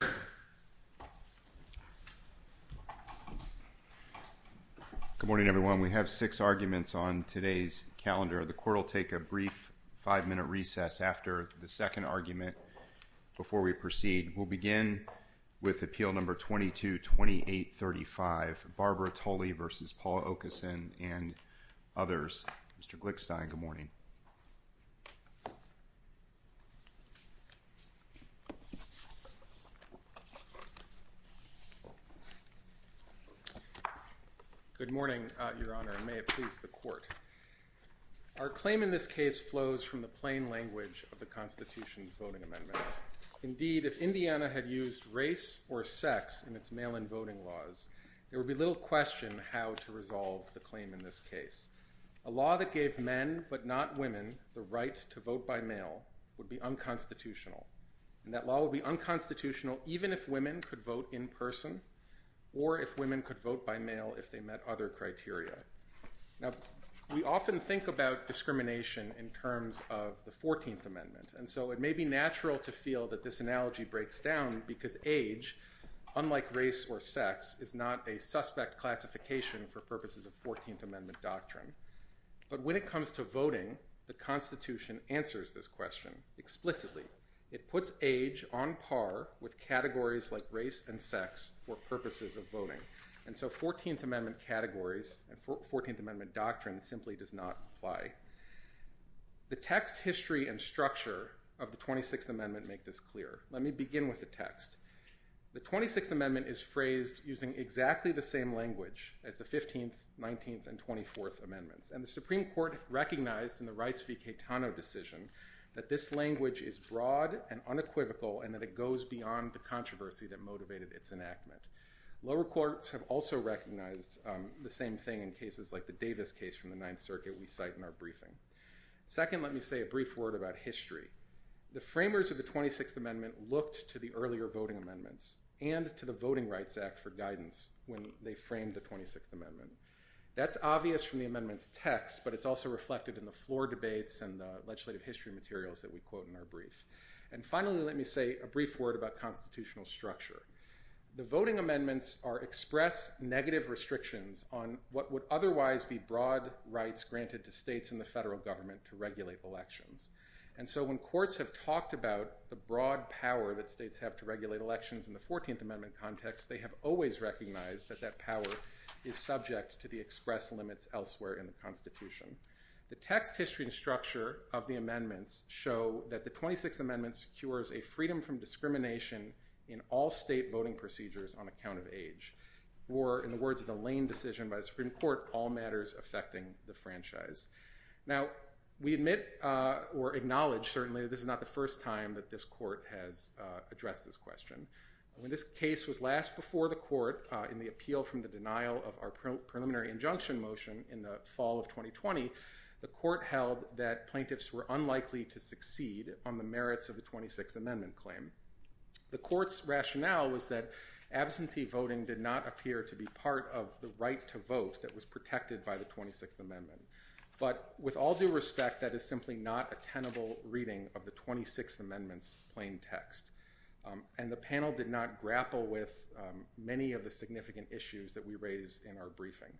Good morning, everyone. We have six arguments on today's calendar. The court will take a brief five-minute recess after the second argument before we proceed. We'll begin with Appeal No. 222835, Barbara Tully v. Paul Okeson and others. Mr. Glickstein, good morning. Good morning, Your Honor, and may it please the Court. Our claim in this case flows from the plain language of the Constitution's voting amendments. Indeed, if Indiana had used race or sex in its mail-in voting laws, there would be little question how to resolve the claim in this case. A law that gave men, but not women, the right to vote by mail would be unconstitutional. That law would be unconstitutional even if women could vote in person or if women could vote by mail if they met other criteria. We often think about discrimination in terms of the 14th Amendment, and so it may be natural to feel that this analogy breaks down because age, unlike race or sex, is not a suspect classification for purposes of 14th Amendment doctrine. But when it comes to voting, the Constitution answers this question explicitly. It puts age on par with categories like race and sex for purposes of voting. And so 14th Amendment categories and 14th Amendment doctrine simply does not apply. The text, history, and structure of the 26th Amendment make this clear. Let me begin with the text. The 26th Amendment is phrased using exactly the same language as the 15th, 19th, and 24th Amendments. And the Supreme Court recognized in the Rice v. Caetano decision that this language is broad and unequivocal and that it goes beyond the controversy that motivated its enactment. Lower courts have also recognized the same thing in cases like the Davis case from the Ninth Circuit we cite in our briefing. Second, let me say a brief word about history. The framers of the 26th Amendment looked to the earlier voting amendments and to the Voting Rights Act for guidance when they framed the 26th Amendment. That's obvious from the amendment's text, but it's also reflected in the floor debates and the legislative history materials that we quote in our brief. And finally, let me say a brief word about constitutional structure. The voting amendments express negative restrictions on what would otherwise be broad rights granted to states and the federal government to regulate elections. And so when courts have talked about the broad power that states have to regulate elections in the 14th Amendment context, they have always recognized that that power is subject to the express limits elsewhere in the Constitution. The text, history, and structure of the amendments show that the 26th Amendment secures a freedom from discrimination in all state voting procedures on account of age, or in the words of the Lane decision by the Supreme Court, all matters affecting the franchise. Now, we admit or acknowledge certainly that this is not the first time that this court has addressed this question. When this case was last before the court in the appeal from the denial of our preliminary injunction motion in the fall of 2020, the court held that plaintiffs were unlikely to succeed on the merits of the 26th Amendment claim. The court's rationale was that absentee voting did not appear to be part of the right to vote that was protected by the 26th Amendment. But with all due respect, that is simply not a tenable reading of the 26th Amendment's plain text. And the panel did not grapple with many of the significant issues that we raise in our briefing.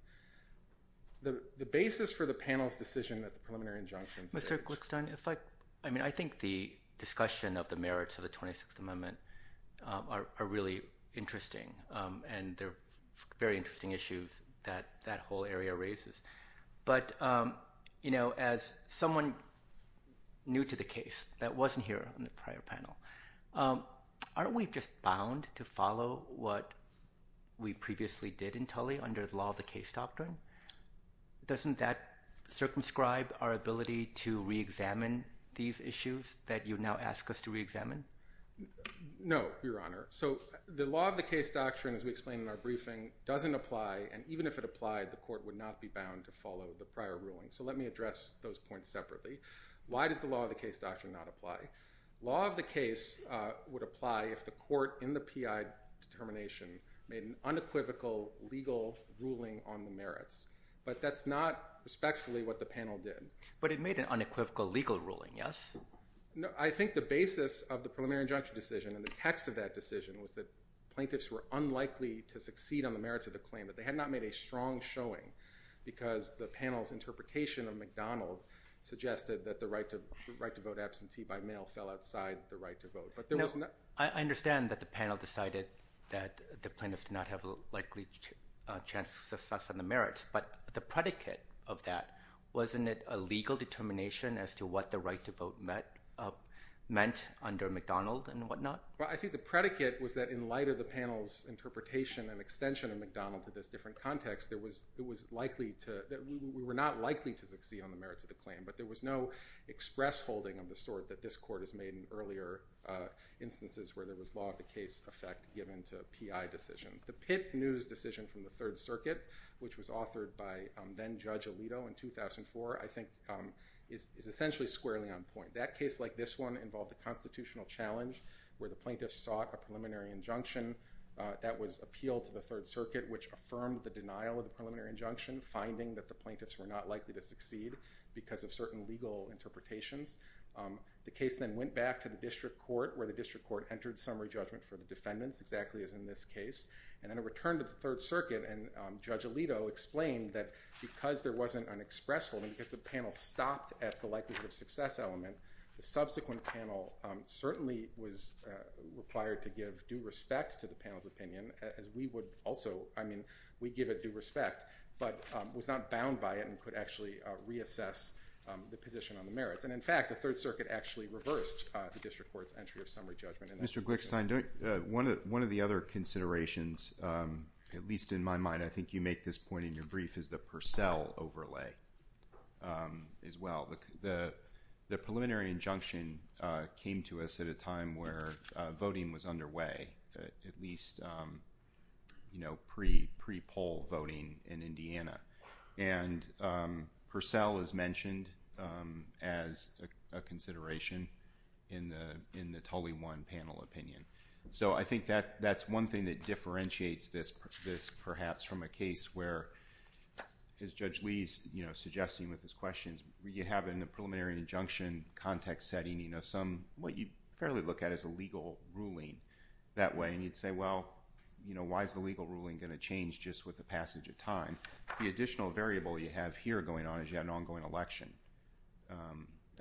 The basis for the panel's decision that the preliminary injunctions— Mr. Glickstein, if I—I mean, I think the discussion of the merits of the 26th Amendment are really interesting, and they're very interesting issues that that whole area raises. But, you know, as someone new to the case that wasn't here on the prior panel, aren't we just bound to follow what we previously did in Tully under the law of the case doctrine? Doesn't that circumscribe our ability to reexamine these issues that you now ask us to reexamine? No, Your Honor. So the law of the case doctrine, as we explained in our briefing, doesn't apply, and even if it applied, the court would not be bound to follow the prior ruling. So let me address those points separately. Why does the law of the case doctrine not apply? The law of the case would apply if the court in the P.I. determination made an unequivocal legal ruling on the merits, but that's not respectfully what the panel did. But it made an unequivocal legal ruling, yes? I think the basis of the preliminary injunction decision and the text of that decision was that plaintiffs were unlikely to succeed on the merits of the claim, that they had not made a strong showing because the panel's interpretation of McDonald suggested that the right to vote absentee by mail fell outside the right to vote. No, I understand that the panel decided that the plaintiffs did not have a likely chance of success on the merits, but the predicate of that, wasn't it a legal determination as to what the right to vote meant under McDonald and whatnot? Well, I think the predicate was that in light of the panel's interpretation and extension of McDonald to this different context, we were not likely to succeed on the merits of the claim, but there was no express holding of the sort that this court has made in earlier instances where there was law of the case effect given to P.I. decisions. The Pitt News decision from the Third Circuit, which was authored by then Judge Alito in 2004, I think is essentially squarely on point. That case, like this one, involved a constitutional challenge where the plaintiffs sought a preliminary injunction that was appealed to the Third Circuit, which affirmed the denial of the preliminary injunction, finding that the plaintiffs were not likely to succeed because of certain legal interpretations. The case then went back to the district court where the district court entered summary judgment for the defendants, exactly as in this case, and then it returned to the Third Circuit and Judge Alito explained that because there wasn't an express holding, if the panel stopped at the likelihood of success element, the subsequent panel certainly was required to give due respect to the panel's opinion as we would also, I mean, we give it due respect, but was not bound by it and could actually reassess the position on the merits. And in fact, the Third Circuit actually reversed the district court's entry of summary judgment in that situation. Mr. Glickstein, one of the other considerations, at least in my mind, I think you make this point in your brief, is the Purcell overlay as well. The preliminary injunction came to us at a time where voting was underway, at least pre-poll voting in Indiana. And Purcell is mentioned as a consideration in the Tully 1 panel opinion. So I think that's one thing that differentiates this perhaps from a case where, as Judge Lee is suggesting with his questions, you have in the preliminary injunction context setting some, what you fairly look at as a legal ruling that way. And you'd say, well, why is the legal ruling going to change just with the passage of time? The additional variable you have here going on is you have an ongoing election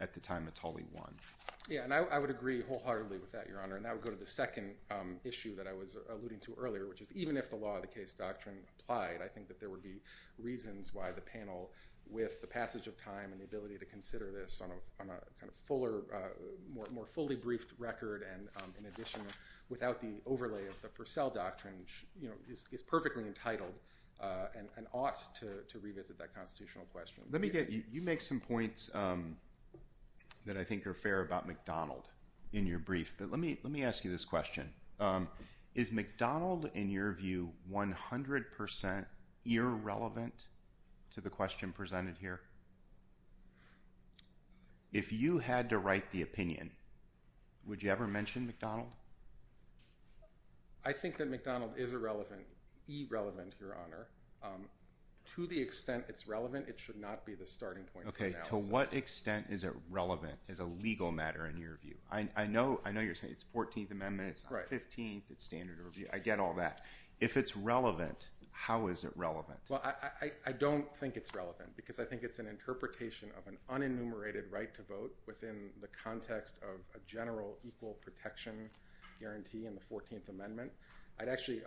at the time of Tully 1. Yeah, and I would agree wholeheartedly with that, Your Honor. And I would go to the second issue that I was alluding to earlier, which is even if the law of the case doctrine applied, I think that there would be reasons why the panel, with the passage of time and the ability to consider this on a more fully briefed record and, in addition, without the overlay of the Purcell doctrine, is perfectly entitled and ought to revisit that constitutional question. Let me get, you make some points that I think are fair about McDonald in your brief. But let me ask you this question. Is McDonald, in your view, 100% irrelevant to the question presented here? If you had to write the opinion, would you ever mention McDonald? I think that McDonald is irrelevant, irrelevant, Your Honor. To the extent it's relevant, it should not be the starting point of the analysis. Okay, to what extent is it relevant as a legal matter in your view? I know you're saying it's the 14th Amendment. It's not the 15th. It's standard review. I get all that. If it's relevant, how is it relevant? Well, I don't think it's relevant because I think it's an interpretation of an unenumerated right to vote within the context of a general equal protection guarantee in the 14th Amendment. I'd actually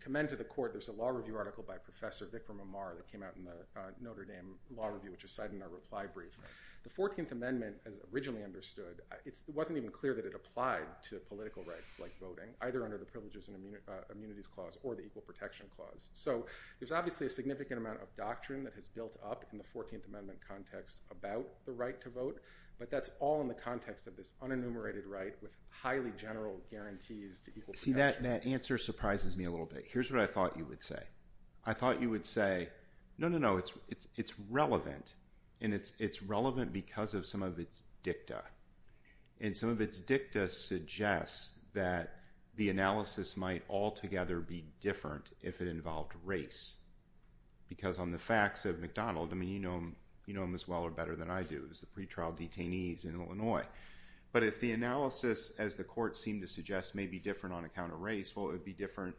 commend to the Court, there's a law review article by Professor Vikram Amar that came out in the Notre Dame Law Review, which is cited in our reply brief. The 14th Amendment, as originally understood, it wasn't even clear that it applied to political rights like voting, either under the Privileges and Immunities Clause or the Equal Protection Clause. So there's obviously a significant amount of doctrine that has built up in the 14th Amendment context about the right to vote, but that's all in the context of this unenumerated right with highly general guarantees to equal protection. See, that answer surprises me a little bit. Here's what I thought you would say. I thought you would say, no, no, no, it's relevant. And it's relevant because of some of its dicta. And some of its dicta suggests that the analysis might altogether be different if it involved race. Because on the facts of McDonald, I mean, you know him as well or better than I do. He was the pretrial detainees in Illinois. But if the analysis, as the Court seemed to suggest, may be different on account of race, well, it would be different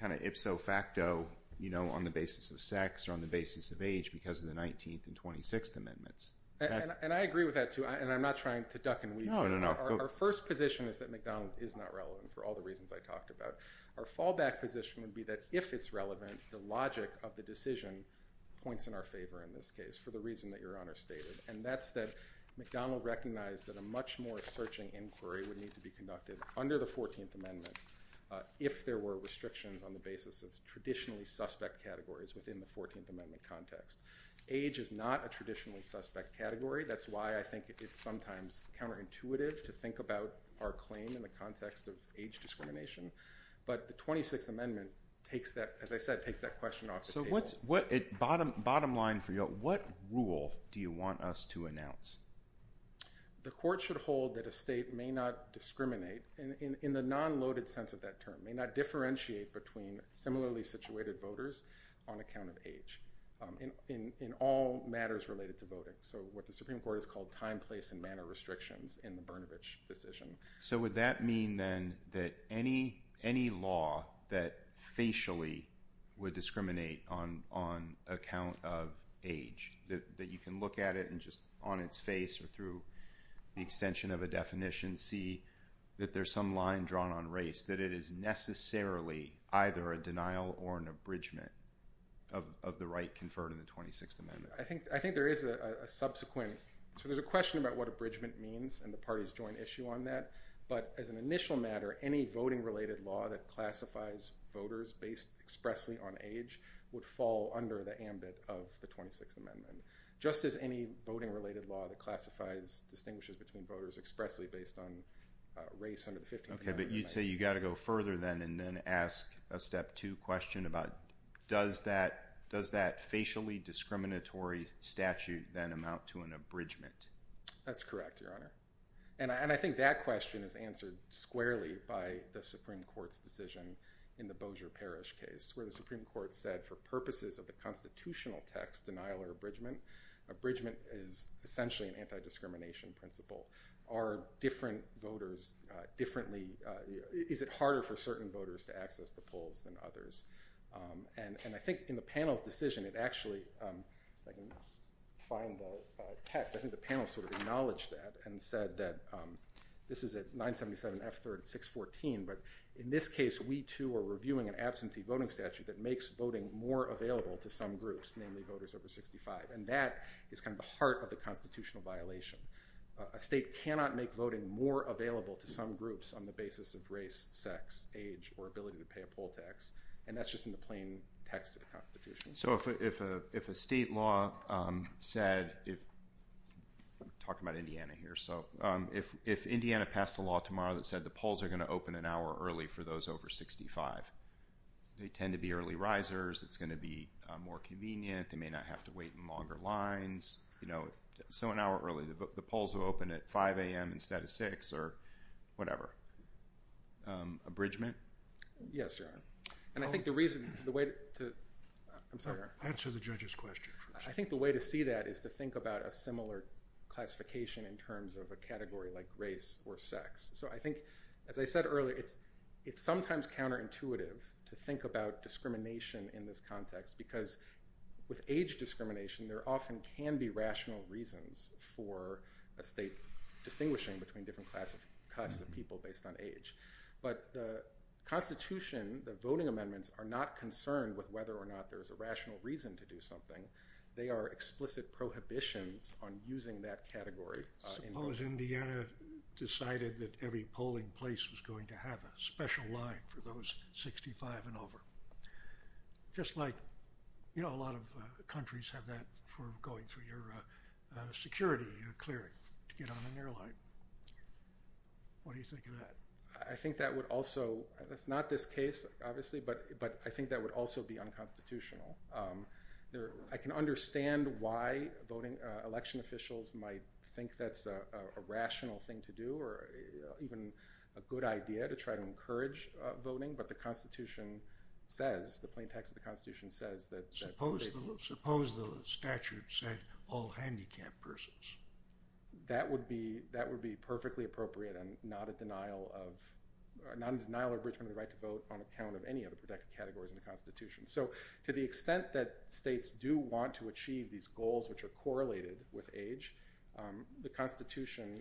kind of ipso facto on the basis of sex or on the basis of age because of the 19th and 26th Amendments. And I agree with that, too. And I'm not trying to duck and weave here. No, no, no. Our first position is that McDonald is not relevant for all the reasons I talked about. Our fallback position would be that if it's relevant, the logic of the decision points in our favor in this case for the reason that Your Honor stated. And that's that McDonald recognized that a much more searching inquiry would need to be conducted under the 14th Amendment if there were restrictions on the basis of traditionally suspect categories within the 14th Amendment context. Age is not a traditionally suspect category. That's why I think it's sometimes counterintuitive to think about our claim in the context of age discrimination. But the 26th Amendment, as I said, takes that question off the table. So bottom line for you, what rule do you want us to announce? The court should hold that a state may not discriminate in the non-loaded sense of that term, may not differentiate between similarly situated voters on account of age in all matters related to voting. So what the Supreme Court has called time, place, and manner restrictions in the Brnovich decision. So would that mean then that any law that facially would discriminate on account of age, that you can look at it and just on its face or through the extension of a definition see that there's some line drawn on race, that it is necessarily either a denial or an abridgment of the right conferred in the 26th Amendment? I think there is a subsequent. So there's a question about what abridgment means and the party's joint issue on that. But as an initial matter, any voting-related law that classifies voters based expressly on age would fall under the ambit of the 26th Amendment, just as any voting-related law that classifies, distinguishes between voters expressly based on race under the 15th Amendment. Okay, but you'd say you've got to go further then and then ask a step two question about does that facially discriminatory statute then amount to an abridgment? That's correct, Your Honor. And I think that question is answered squarely by the Supreme Court's decision in the Supreme Court said for purposes of the constitutional text, denial or abridgment, abridgment is essentially an anti-discrimination principle. Are different voters differently, is it harder for certain voters to access the polls than others? And I think in the panel's decision, it actually, if I can find the text, I think the panel sort of acknowledged that and said that, this is at 977 F3rd 614, but in this case we too are reviewing an absentee voting statute that makes voting more available to some groups, namely voters over 65, and that is kind of the heart of the constitutional violation. A state cannot make voting more available to some groups on the basis of race, sex, age, or ability to pay a poll tax, and that's just in the plain text of the Constitution. So if a state law said, talking about Indiana here, so if Indiana passed a law tomorrow that said the polls are going to open an hour early for those over 65, they tend to be early risers, it's going to be more convenient, they may not have to wait in longer lines, you know, so an hour early, the polls will open at 5 a.m. instead of 6 or whatever. Abridgment? Yes, Your Honor. And I think the reason, the way to, I'm sorry, Your Honor. Answer the judge's question first. I think the way to see that is to think about a similar classification in terms of a category like race or sex. So I think, as I said earlier, it's sometimes counterintuitive to think about discrimination in this context because with age discrimination, there often can be rational reasons for a state distinguishing between different classes of people based on age. But the Constitution, the voting amendments, are not concerned with whether or not there's a rational reason to do something. They are explicit prohibitions on using that category. Suppose Indiana decided that every polling place was going to have a special line for those 65 and over. Just like, you know, a lot of countries have that for going through your security, your clearing to get on an airline. What do you think of that? I think that would also, it's not this case, obviously, but I think that would also be unconstitutional. I can understand why voting, election officials might think that's a rational thing to do or even a good idea to try to encourage voting, but the Constitution says, the plain text of the Constitution says that states... Suppose the statute said all handicapped persons. That would be perfectly appropriate and not a denial of, not a denial of enrichment of the right to vote on account of any other protected categories in the Constitution. So, to the extent that states do want to achieve these goals, which are correlated with age, the Constitution,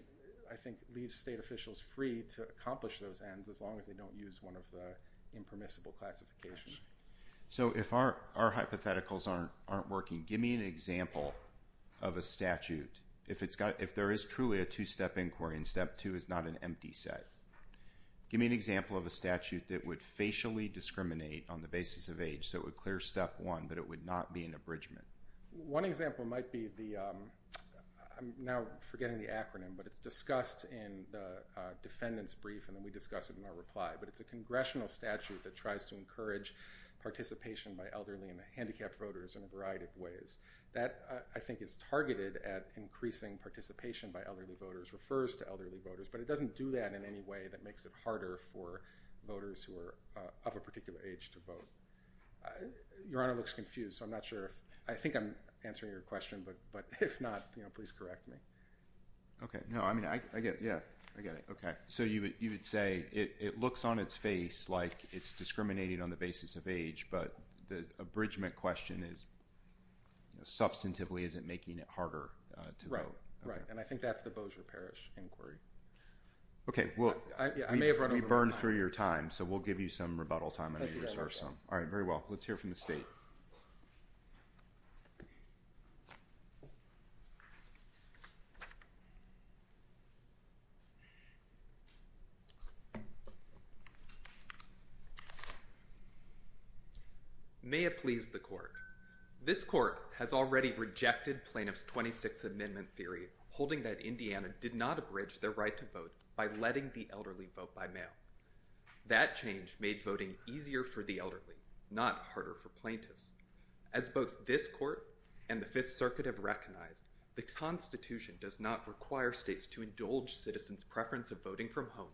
I think, leaves state officials free to accomplish those ends as long as they don't use one of the impermissible classifications. So, if our hypotheticals aren't working, give me an example of a statute. If there is truly a two-step inquiry and step two is not an empty set, give me an example of a statute that would facially discriminate on the basis of age, so it would clear step one, but it would not be an abridgment. One example might be the, I'm now forgetting the acronym, but it's discussed in the defendant's brief and then we discuss it in our reply, but it's a congressional statute that tries to encourage participation by elderly and handicapped voters in a variety of ways. That, I think, is targeted at increasing participation by elderly voters, refers to elderly voters, but it doesn't do that in any way that makes it harder for voters who are of a particular age to vote. Your Honor looks confused, so I'm not sure if, I think I'm answering your question, but if not, please correct me. Okay. No, I mean, I get it. Yeah, I get it. Okay. So, you would say it looks on its face like it's discriminating on the basis of age, but Right. And I think that's the Bossier Parish inquiry. Okay. I may have run over my time. We burned through your time, so we'll give you some rebuttal time. Thank you, Your Honor. All right, very well. Let's hear from the State. May it please the Court. This Court has already rejected Plaintiff's 26th Amendment theory holding that Indiana did not abridge their right to vote by letting the elderly vote by mail. That change made voting easier for the elderly, not harder for plaintiffs. As both this Court and the Fifth Circuit have recognized, the Constitution does not require states to indulge citizens' preference of voting from home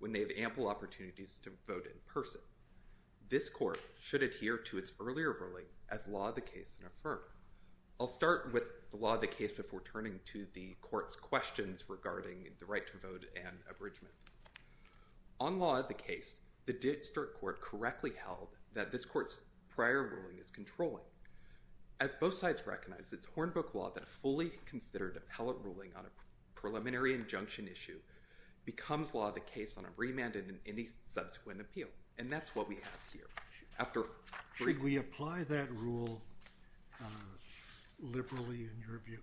when they have ample opportunities to vote in person. This Court should adhere to its earlier ruling as law of the case and affirm. I'll start with the law of the case before turning to the Court's questions regarding the right to vote and abridgement. On law of the case, the District Court correctly held that this Court's prior ruling is controlling. As both sides recognize, it's Hornbook law that a fully considered appellate ruling on a preliminary injunction issue becomes law of the case on a remand and any subsequent appeal. And that's what we have here. Should we apply that rule liberally in your view?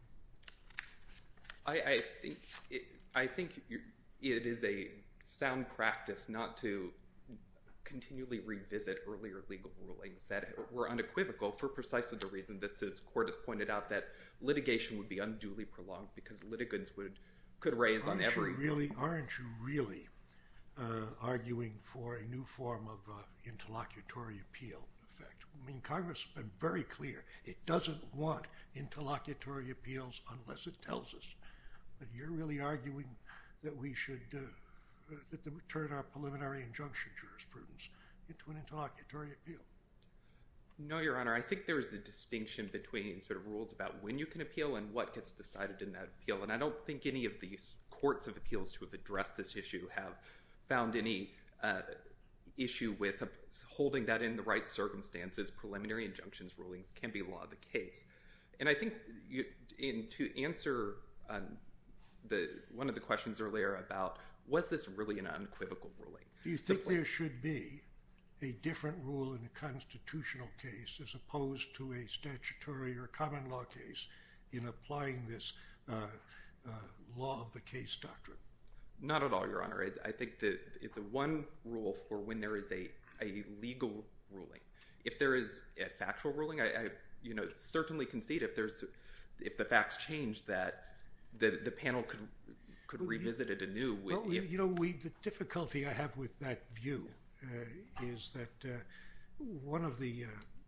I think it is a sound practice not to continually revisit earlier legal rulings that were unequivocal for precisely the reason this Court has pointed out, that litigation would be unduly prolonged because litigants could raise on every— So really, aren't you really arguing for a new form of interlocutory appeal effect? I mean, Congress has been very clear. It doesn't want interlocutory appeals unless it tells us. But you're really arguing that we should turn our preliminary injunction jurisprudence into an interlocutory appeal? No, Your Honor. I think there is a distinction between sort of rules about when you can appeal and what gets decided in that appeal. And I don't think any of these courts of appeals to have addressed this issue have found any issue with holding that in the right circumstances. Preliminary injunctions rulings can be law of the case. And I think to answer one of the questions earlier about was this really an unequivocal ruling? Do you think there should be a different rule in a constitutional case as opposed to a statutory or common law case in applying this law of the case doctrine? Not at all, Your Honor. I think that it's a one rule for when there is a legal ruling. If there is a factual ruling, I certainly concede if the facts change that the panel could revisit it anew. The difficulty I have with that view is that one of the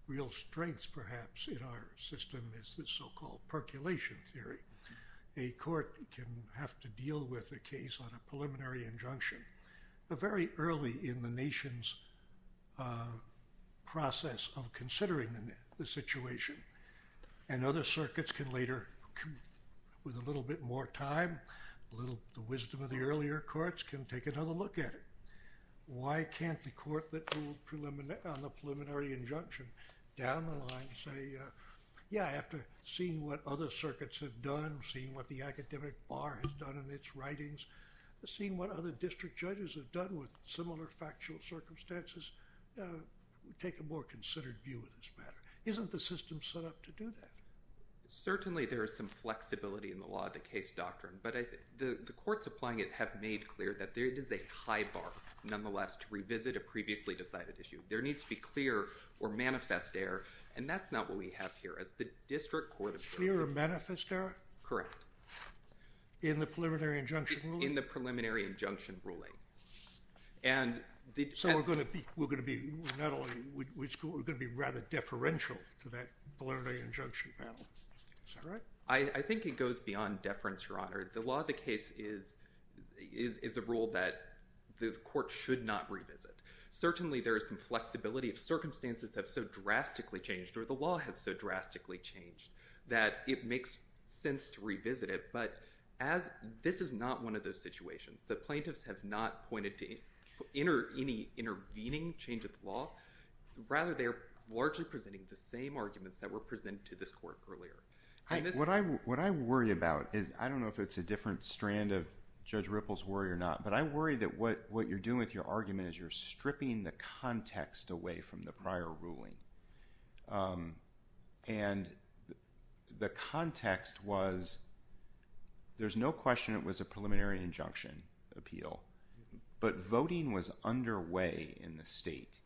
real strengths perhaps in our system is this so-called percolation theory. A court can have to deal with a case on a preliminary injunction, but very early in the nation's process of considering the situation. And other circuits can later, with a little bit more time, the wisdom of the earlier courts can take another look at it. Why can't the court that ruled on the preliminary injunction down the line say, yeah, after seeing what other circuits have done, seeing what the academic bar has done in its writings, seeing what other district judges have done with similar factual circumstances, take a more considered view of this matter. Isn't the system set up to do that? Certainly there is some flexibility in the law of the case doctrine, but the courts applying it have made clear that there is a high bar, nonetheless, to revisit a previously decided issue. There needs to be clear or manifest error, and that's not what we have here. As the district court observed... Clear or manifest error? Correct. In the preliminary injunction ruling? In the preliminary injunction ruling. So we're going to be rather deferential to that preliminary injunction panel. Is that right? I think it goes beyond deference, Your Honor. The law of the case is a rule that the court should not revisit. Certainly there is some flexibility. Circumstances have so drastically changed, or the law has so drastically changed, that it makes sense to revisit it. But this is not one of those situations. The plaintiffs have not pointed to any intervening change of the law. Rather, they are largely presenting the same arguments that were presented to this court earlier. What I worry about is... I don't know if it's a different strand of Judge Ripple's worry or not, but I worry that what you're doing with your argument is you're stripping the context away from the prior ruling. And the context was... there's no question it was a preliminary injunction appeal, but voting was underway in the state.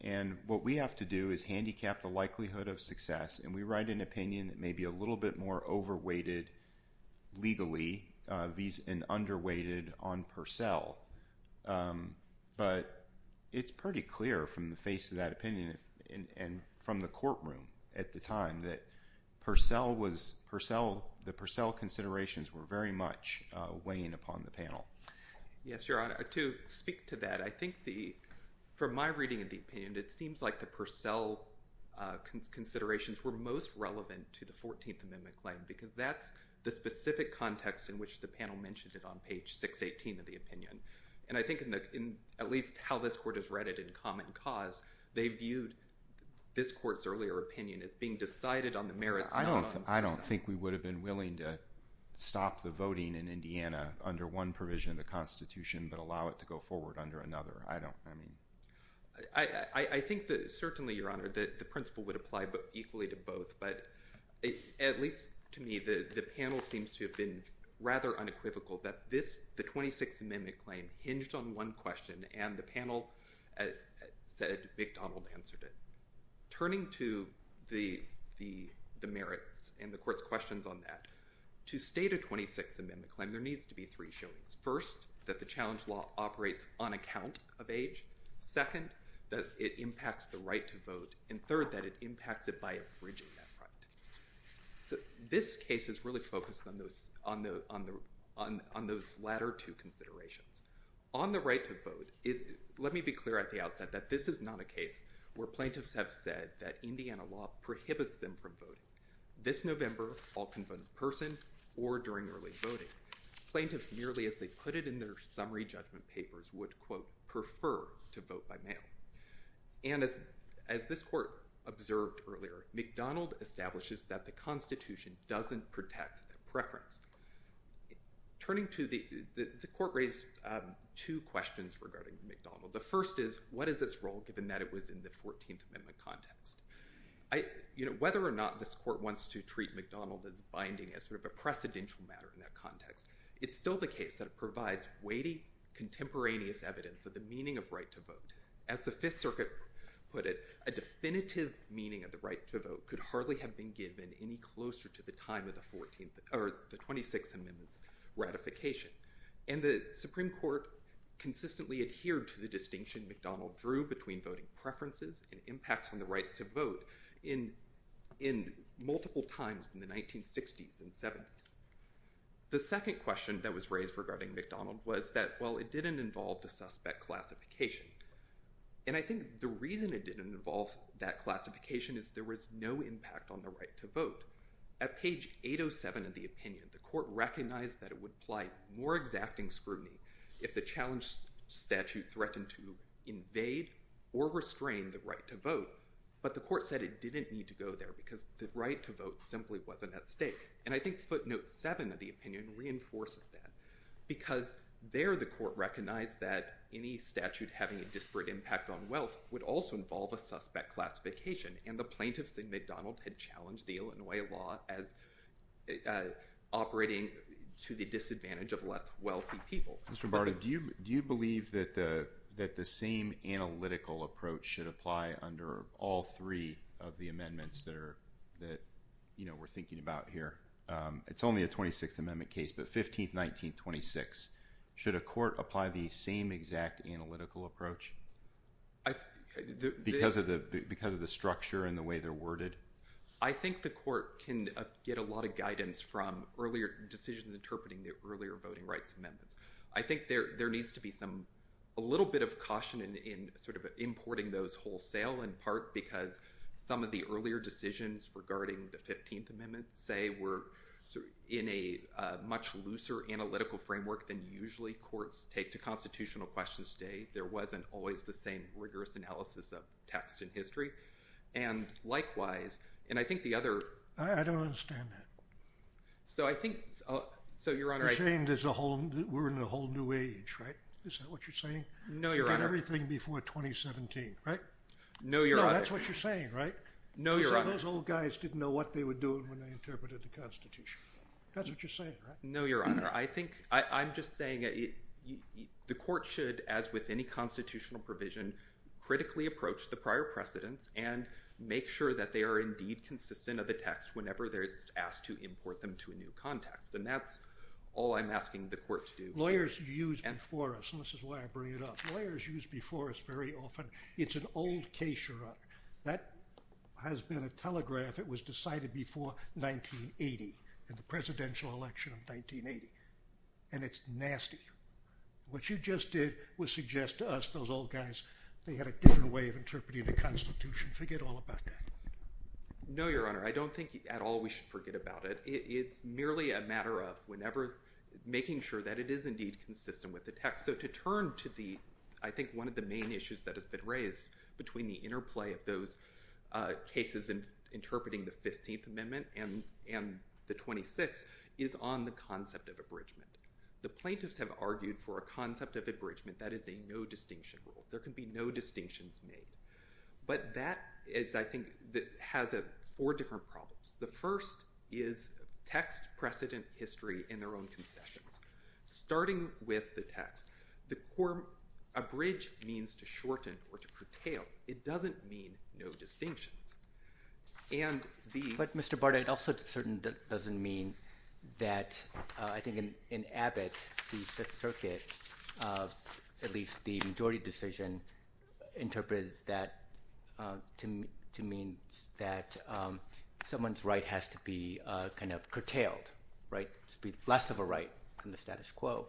And what we have to do is handicap the likelihood of success, and we write an opinion that may be a little bit more over-weighted legally and under-weighted on Purcell. But it's pretty clear from the face of that opinion and from the courtroom at the time that the Purcell considerations were very much weighing upon the panel. Yes, Your Honor. To speak to that, I think from my reading of the opinion, it seems like the Purcell considerations were most relevant to the 14th Amendment claim because that's the specific And I think in at least how this Court has read it in Common Cause, they viewed this Court's earlier opinion as being decided on the merits... I don't think we would have been willing to stop the voting in Indiana under one provision of the Constitution but allow it to go forward under another. I don't... I mean... I think that certainly, Your Honor, the principle would apply equally to both, but at least to me, the panel seems to have been rather unequivocal that this... the 26th Amendment claim hinged on one question, and the panel said McDonald answered it. Turning to the merits and the Court's questions on that, to state a 26th Amendment claim, there needs to be three showings. First, that the challenge law operates on account of age. Second, that it impacts the right to vote. And third, that it impacts it by abridging that right. So, this case is really focused on those latter two considerations. On the right to vote, let me be clear at the outset that this is not a case where plaintiffs have said that Indiana law prohibits them from voting. This November, all can vote in person or during early voting. Plaintiffs, merely as they put it in their summary judgment papers, would, quote, prefer to vote by mail. And as this Court observed earlier, McDonald establishes that the Constitution doesn't protect preference. Turning to the... the Court raised two questions regarding McDonald. The first is, what is its role, given that it was in the 14th Amendment context? Whether or not this Court wants to treat McDonald as binding, as sort of a precedential matter in that context, it's still the case that it provides weighty, contemporaneous evidence of the meaning of right to vote. As the Fifth Circuit put it, a definitive meaning of the right to vote could hardly have been given any closer to the time of the 26th Amendment's ratification. And the Supreme Court consistently adhered to the distinction McDonald drew between voting preferences and impacts on the rights to vote in multiple times in the 1960s and 70s. The second question that was raised regarding McDonald was that, well, it didn't involve the suspect classification. And I think the reason it didn't involve that classification is there was no impact on the right to vote. At page 807 of the opinion, the Court recognized that it would apply more exacting scrutiny if the challenge statute threatened to invade or restrain the right to vote. But the Court said it didn't need to go there because the right to vote simply wasn't at stake. And I think footnote 7 of the opinion reinforces that because there the Court recognized that any statute having a disparate impact on wealth would also involve a suspect classification. And the plaintiffs in McDonald had challenged the Illinois law as operating to the disadvantage of wealthy people. Mr. Barty, do you believe that the same analytical approach should apply under all three of the It's only a 26th Amendment case, but 15th, 19th, 26th. Should a court apply the same exact analytical approach because of the structure and the way they're worded? I think the Court can get a lot of guidance from decisions interpreting the earlier voting rights amendments. I think there needs to be a little bit of caution in importing those wholesale in part because some of the earlier decisions regarding the 15th Amendment, say, were in a much looser analytical framework than usually courts take to constitutional questions today. There wasn't always the same rigorous analysis of text in history. And likewise, and I think the other... I don't understand that. So I think... You're saying we're in a whole new age, right? Is that what you're saying? No, Your Honor. Everything before 2017, right? No, Your Honor. No, that's what you're saying, right? No, Your Honor. You said those old guys didn't know what they were doing when they interpreted the Constitution. That's what you're saying, right? No, Your Honor. I think... I'm just saying the Court should, as with any constitutional provision, critically approach the prior precedents and make sure that they are indeed consistent of the text whenever they're asked to import them to a new context. And that's all I'm asking the Court to do. Lawyers used before us, and this is why I bring it up. Lawyers used before us very often. It's an old case, Your Honor. That has been a telegraph. It was decided before 1980, in the presidential election of 1980. And it's nasty. What you just did was suggest to us, those old guys, they had a different way of interpreting the Constitution. Forget all about that. No, Your Honor. I don't think at all we should forget about it. It's merely a matter of whenever... Making sure that it is indeed consistent with the text. So to turn to the... I think one of the main issues that has been raised between the interplay of those cases interpreting the 15th Amendment and the 26th is on the concept of abridgment. The plaintiffs have argued for a concept of abridgment that is a no distinction rule. There can be no distinctions made. But that is, I think, has four different problems. The first is text, precedent, history, and their own concessions. Starting with the text. Abridge means to shorten or to curtail. It doesn't mean no distinctions. And the... But, Mr. Barta, it also certainly doesn't mean that, I think, in Abbott, the Fifth Circuit, at least the majority decision, interpreted that to mean that someone's right has to be kind of curtailed, right? There should be less of a right in the status quo.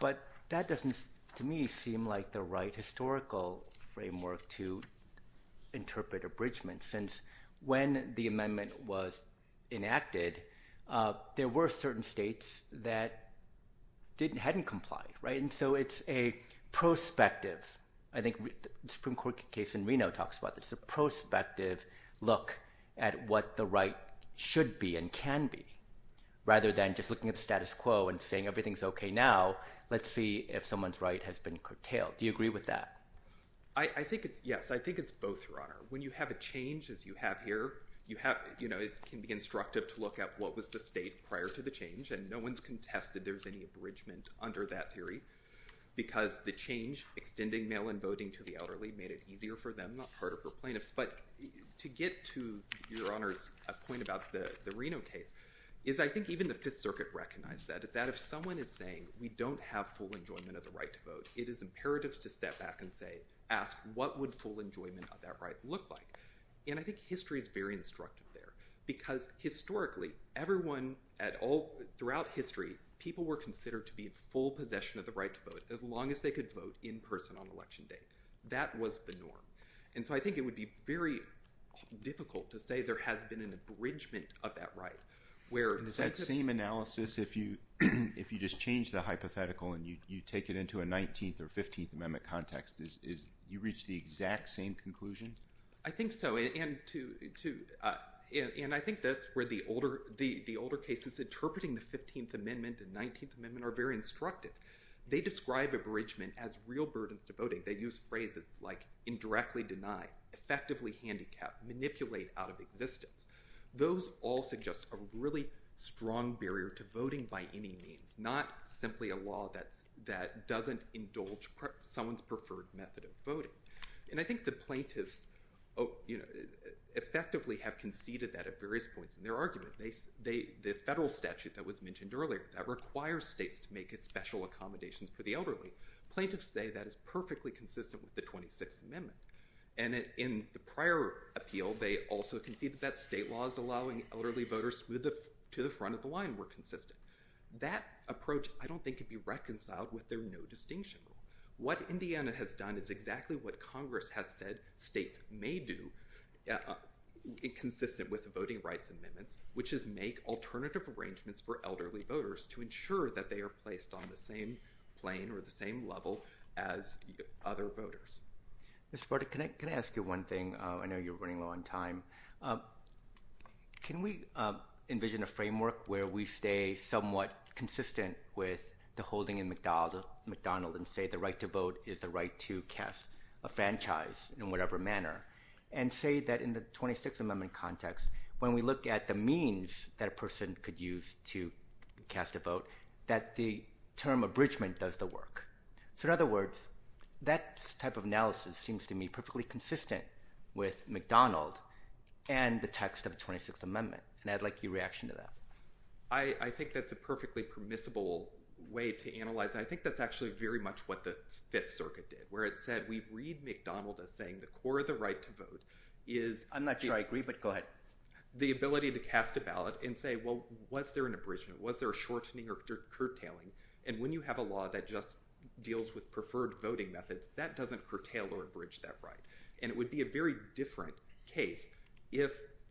But that doesn't, to me, seem like the right historical framework to interpret abridgment since when the amendment was enacted, there were certain states that hadn't complied, right? And so it's a prospective. I think the Supreme Court case in Reno talks about this. It's a prospective look at what the right should be and can be rather than just looking at the status quo and saying everything's okay now. Let's see if someone's right has been curtailed. Do you agree with that? I think it's yes. I think it's both, Your Honor. When you have a change, as you have here, it can be instructive to look at what was the state prior to the change. And no one's contested there's any abridgment under that theory because the change, extending mail-in voting to the elderly, made it easier for them, not harder for plaintiffs. But to get to Your Honor's point about the Reno case is I think even the Fifth Circuit recognized that if someone is saying we don't have full enjoyment of the right to vote, it is imperative to step back and ask what would full enjoyment of that right look like. And I think history is very instructive there because historically, throughout history, people were considered to be in full possession of the right to vote as long as they could vote in person on election day. That was the norm. And so I think it would be very difficult to say there has been an abridgment of that right. Does that same analysis, if you just change the hypothetical and you take it into a 19th or 15th Amendment context, you reach the exact same conclusion? I think so. And I think that's where the older cases interpreting the 15th Amendment and 19th Amendment are very instructive. They describe abridgment as real burdens to voting. They use phrases like indirectly deny, effectively handicap, manipulate out of existence. Those all suggest a really strong barrier to voting by any means, not simply a law that doesn't indulge someone's preferred method of voting. And I think the plaintiffs effectively have conceded that at various points in their argument. The federal statute that was mentioned earlier that requires states to make special accommodations for the elderly, plaintiffs say that is perfectly consistent with the 26th Amendment. And in the prior appeal, they also conceded that state laws allowing elderly voters to the front of the line were consistent. That approach I don't think could be reconciled with their no distinction rule. What Indiana has done is exactly what Congress has said states may do, consistent with the Voting Rights Amendment, which is make alternative arrangements for elderly voters to ensure that they are placed on the same plane or the same level as other voters. Mr. Porter, can I ask you one thing? I know you're running low on time. Can we envision a framework where we stay somewhat consistent with the holding in McDonald's and say the right to vote is the right to cast a franchise in whatever manner and say that in the 26th Amendment context, when we look at the means that a person could use to cast a vote, that the term abridgment does the work? In other words, that type of analysis seems to me perfectly consistent with McDonald and the text of the 26th Amendment. I'd like your reaction to that. I think that's a perfectly permissible way to analyze it. I think that's actually very much what the Fifth Circuit did, where it said we read McDonald as saying the core of the right to vote is— I'm not sure I agree, but go ahead. The ability to cast a ballot and say, well, was there an abridgment? Was there a shortening or curtailing? And when you have a law that just deals with preferred voting methods, that doesn't curtail or abridge that right. And it would be a very different case if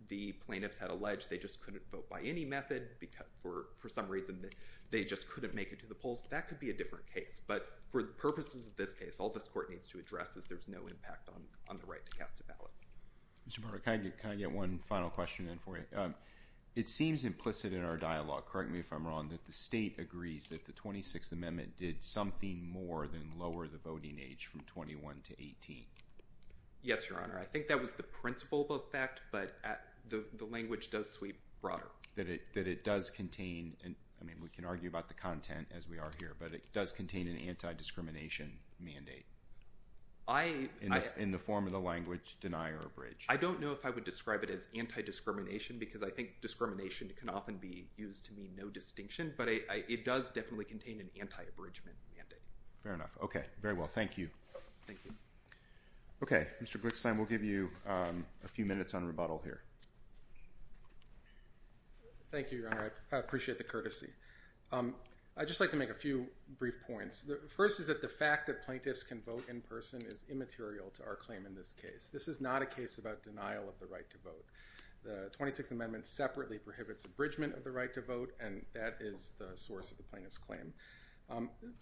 the plaintiffs had alleged they just couldn't vote by any method, for some reason they just couldn't make it to the polls. That could be a different case. But for the purposes of this case, all this court needs to address is there's no impact on the right to cast a ballot. Mr. Barber, can I get one final question in for you? It seems implicit in our dialogue—correct me if I'm wrong— that the state agrees that the 26th Amendment did something more than lower the voting age from 21 to 18. Yes, Your Honor. I think that was the principal effect, but the language does sweep broader. That it does contain—I mean, we can argue about the content, as we are here, but it does contain an anti-discrimination mandate in the form of the language deny or abridge. I don't know if I would describe it as anti-discrimination because I think discrimination can often be used to mean no distinction, but it does definitely contain an anti-abridgment mandate. Fair enough. Okay. Very well. Thank you. Thank you. Okay. Mr. Glickstein, we'll give you a few minutes on rebuttal here. Thank you, Your Honor. I appreciate the courtesy. I'd just like to make a few brief points. The first is that the fact that plaintiffs can vote in person is immaterial to our claim in this case. This is not a case about denial of the right to vote. The 26th Amendment separately prohibits abridgment of the right to vote, and that is the source of the plaintiff's claim.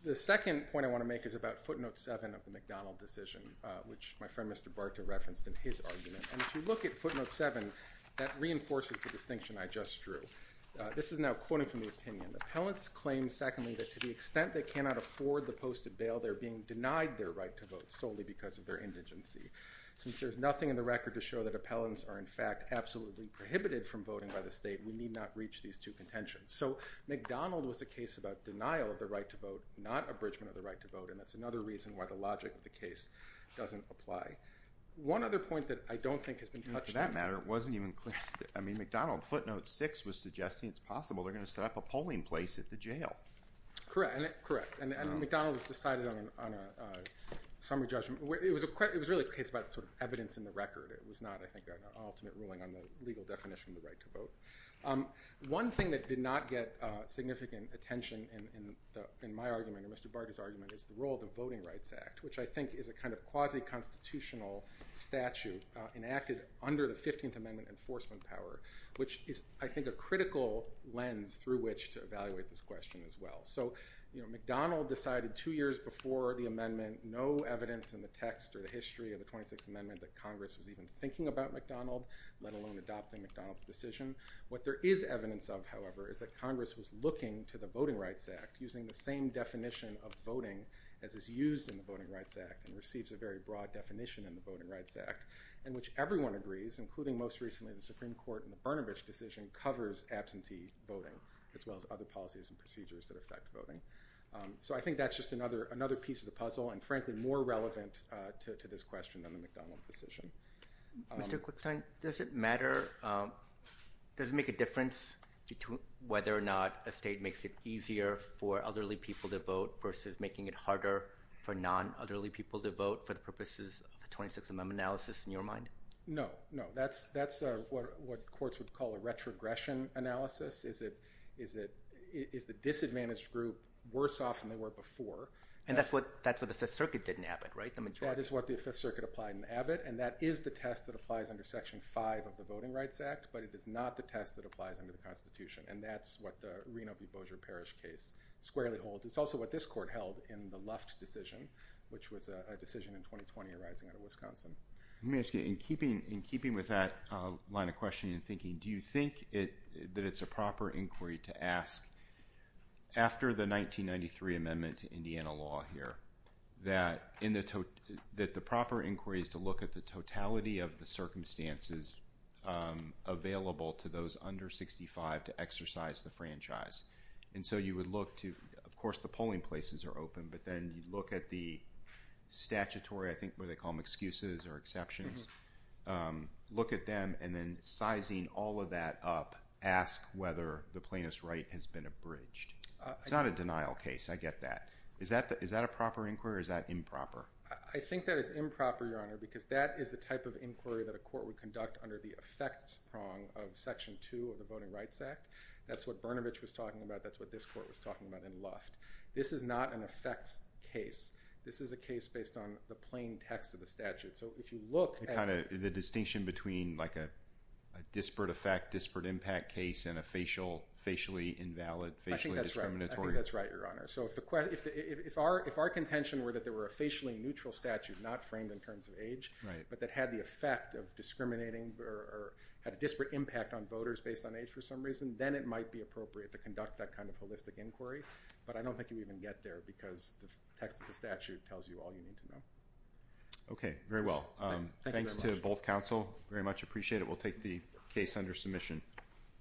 The second point I want to make is about footnote 7 of the McDonald decision, which my friend Mr. Barta referenced in his argument. And if you look at footnote 7, that reinforces the distinction I just drew. This is now quoting from the opinion. Appellants claim, secondly, that to the extent they cannot afford the posted bail, they're being denied their right to vote solely because of their indigency. Since there's nothing in the record to show that appellants are, in fact, absolutely prohibited from voting by the state, we need not reach these two contentions. So McDonald was a case about denial of the right to vote, not abridgment of the right to vote, and that's another reason why the logic of the case doesn't apply. One other point that I don't think has been touched on. For that matter, it wasn't even clear. I mean, McDonald footnote 6 was suggesting it's possible they're going to set up a polling place at the jail. Correct. And McDonald has decided on a summary judgment. It was really a case about sort of evidence in the record. It was not, I think, an ultimate ruling on the legal definition of the right to vote. One thing that did not get significant attention in my argument and Mr. Barta's argument is the role of the Voting Rights Act, which I think is a kind of quasi-constitutional statute enacted under the 15th Amendment enforcement power, which is, I think, a critical lens through which to evaluate this question as well. So, you know, McDonald decided two years before the amendment no evidence in the text or the history of the 26th Amendment that Congress was even thinking about McDonald, let alone adopting McDonald's decision. What there is evidence of, however, is that Congress was looking to the Voting Rights Act using the same definition of voting as is used in the Voting Rights Act and receives a very broad definition in the Voting Rights Act, in which everyone agrees, including most recently the Supreme Court and the Bernabas decision covers absentee voting, as well as other policies and procedures that affect voting. So I think that's just another piece of the puzzle and, frankly, more relevant to this question than the McDonald decision. Mr. Quickstein, does it matter, does it make a difference whether or not a state makes it easier for elderly people to vote versus making it harder for non-elderly people to vote for the purposes of the 26th Amendment analysis in your mind? No, no. That's what courts would call a retrogression analysis. Is the disadvantaged group worse off than they were before? And that's what the Fifth Circuit did in Abbott, right? That is what the Fifth Circuit applied in Abbott, and that is the test that applies under Section 5 of the Voting Rights Act, but it is not the test that applies under the Constitution, and that's what the Reno v. Bossier Parish case squarely holds. It's also what this court held in the Luft decision, which was a decision in 2020 arising out of Wisconsin. Let me ask you, in keeping with that line of questioning and thinking, do you think that it's a proper inquiry to ask, after the 1993 amendment to Indiana law here, that the proper inquiry is to look at the totality of the circumstances available to those under 65 to exercise the franchise? And so you would look to, of course, the polling places are open, but then you look at the statutory, I think what they call them, excuses or exceptions, look at them, and then sizing all of that up, ask whether the plaintiff's right has been abridged. It's not a denial case. I get that. Is that a proper inquiry or is that improper? I think that is improper, Your Honor, because that is the type of inquiry that a court would conduct under the effects prong of Section 2 of the Voting Rights Act. That's what Brnovich was talking about. That's what this court was talking about in Luft. This is not an effects case. This is a case based on the plain text of the statute. So if you look at the distinction between a disparate effect, disparate impact case, and a facially invalid, facially discriminatory. I think that's right, Your Honor. So if our contention were that there were a facially neutral statute, not framed in terms of age, but that had the effect of discriminating or had a disparate impact on voters based on age for some reason, then it might be appropriate to conduct that kind of holistic inquiry. But I don't think you would even get there because the text of the statute tells you all you need to know. Okay, very well. Thanks to both counsel. Very much appreciate it. We'll take the case under submission.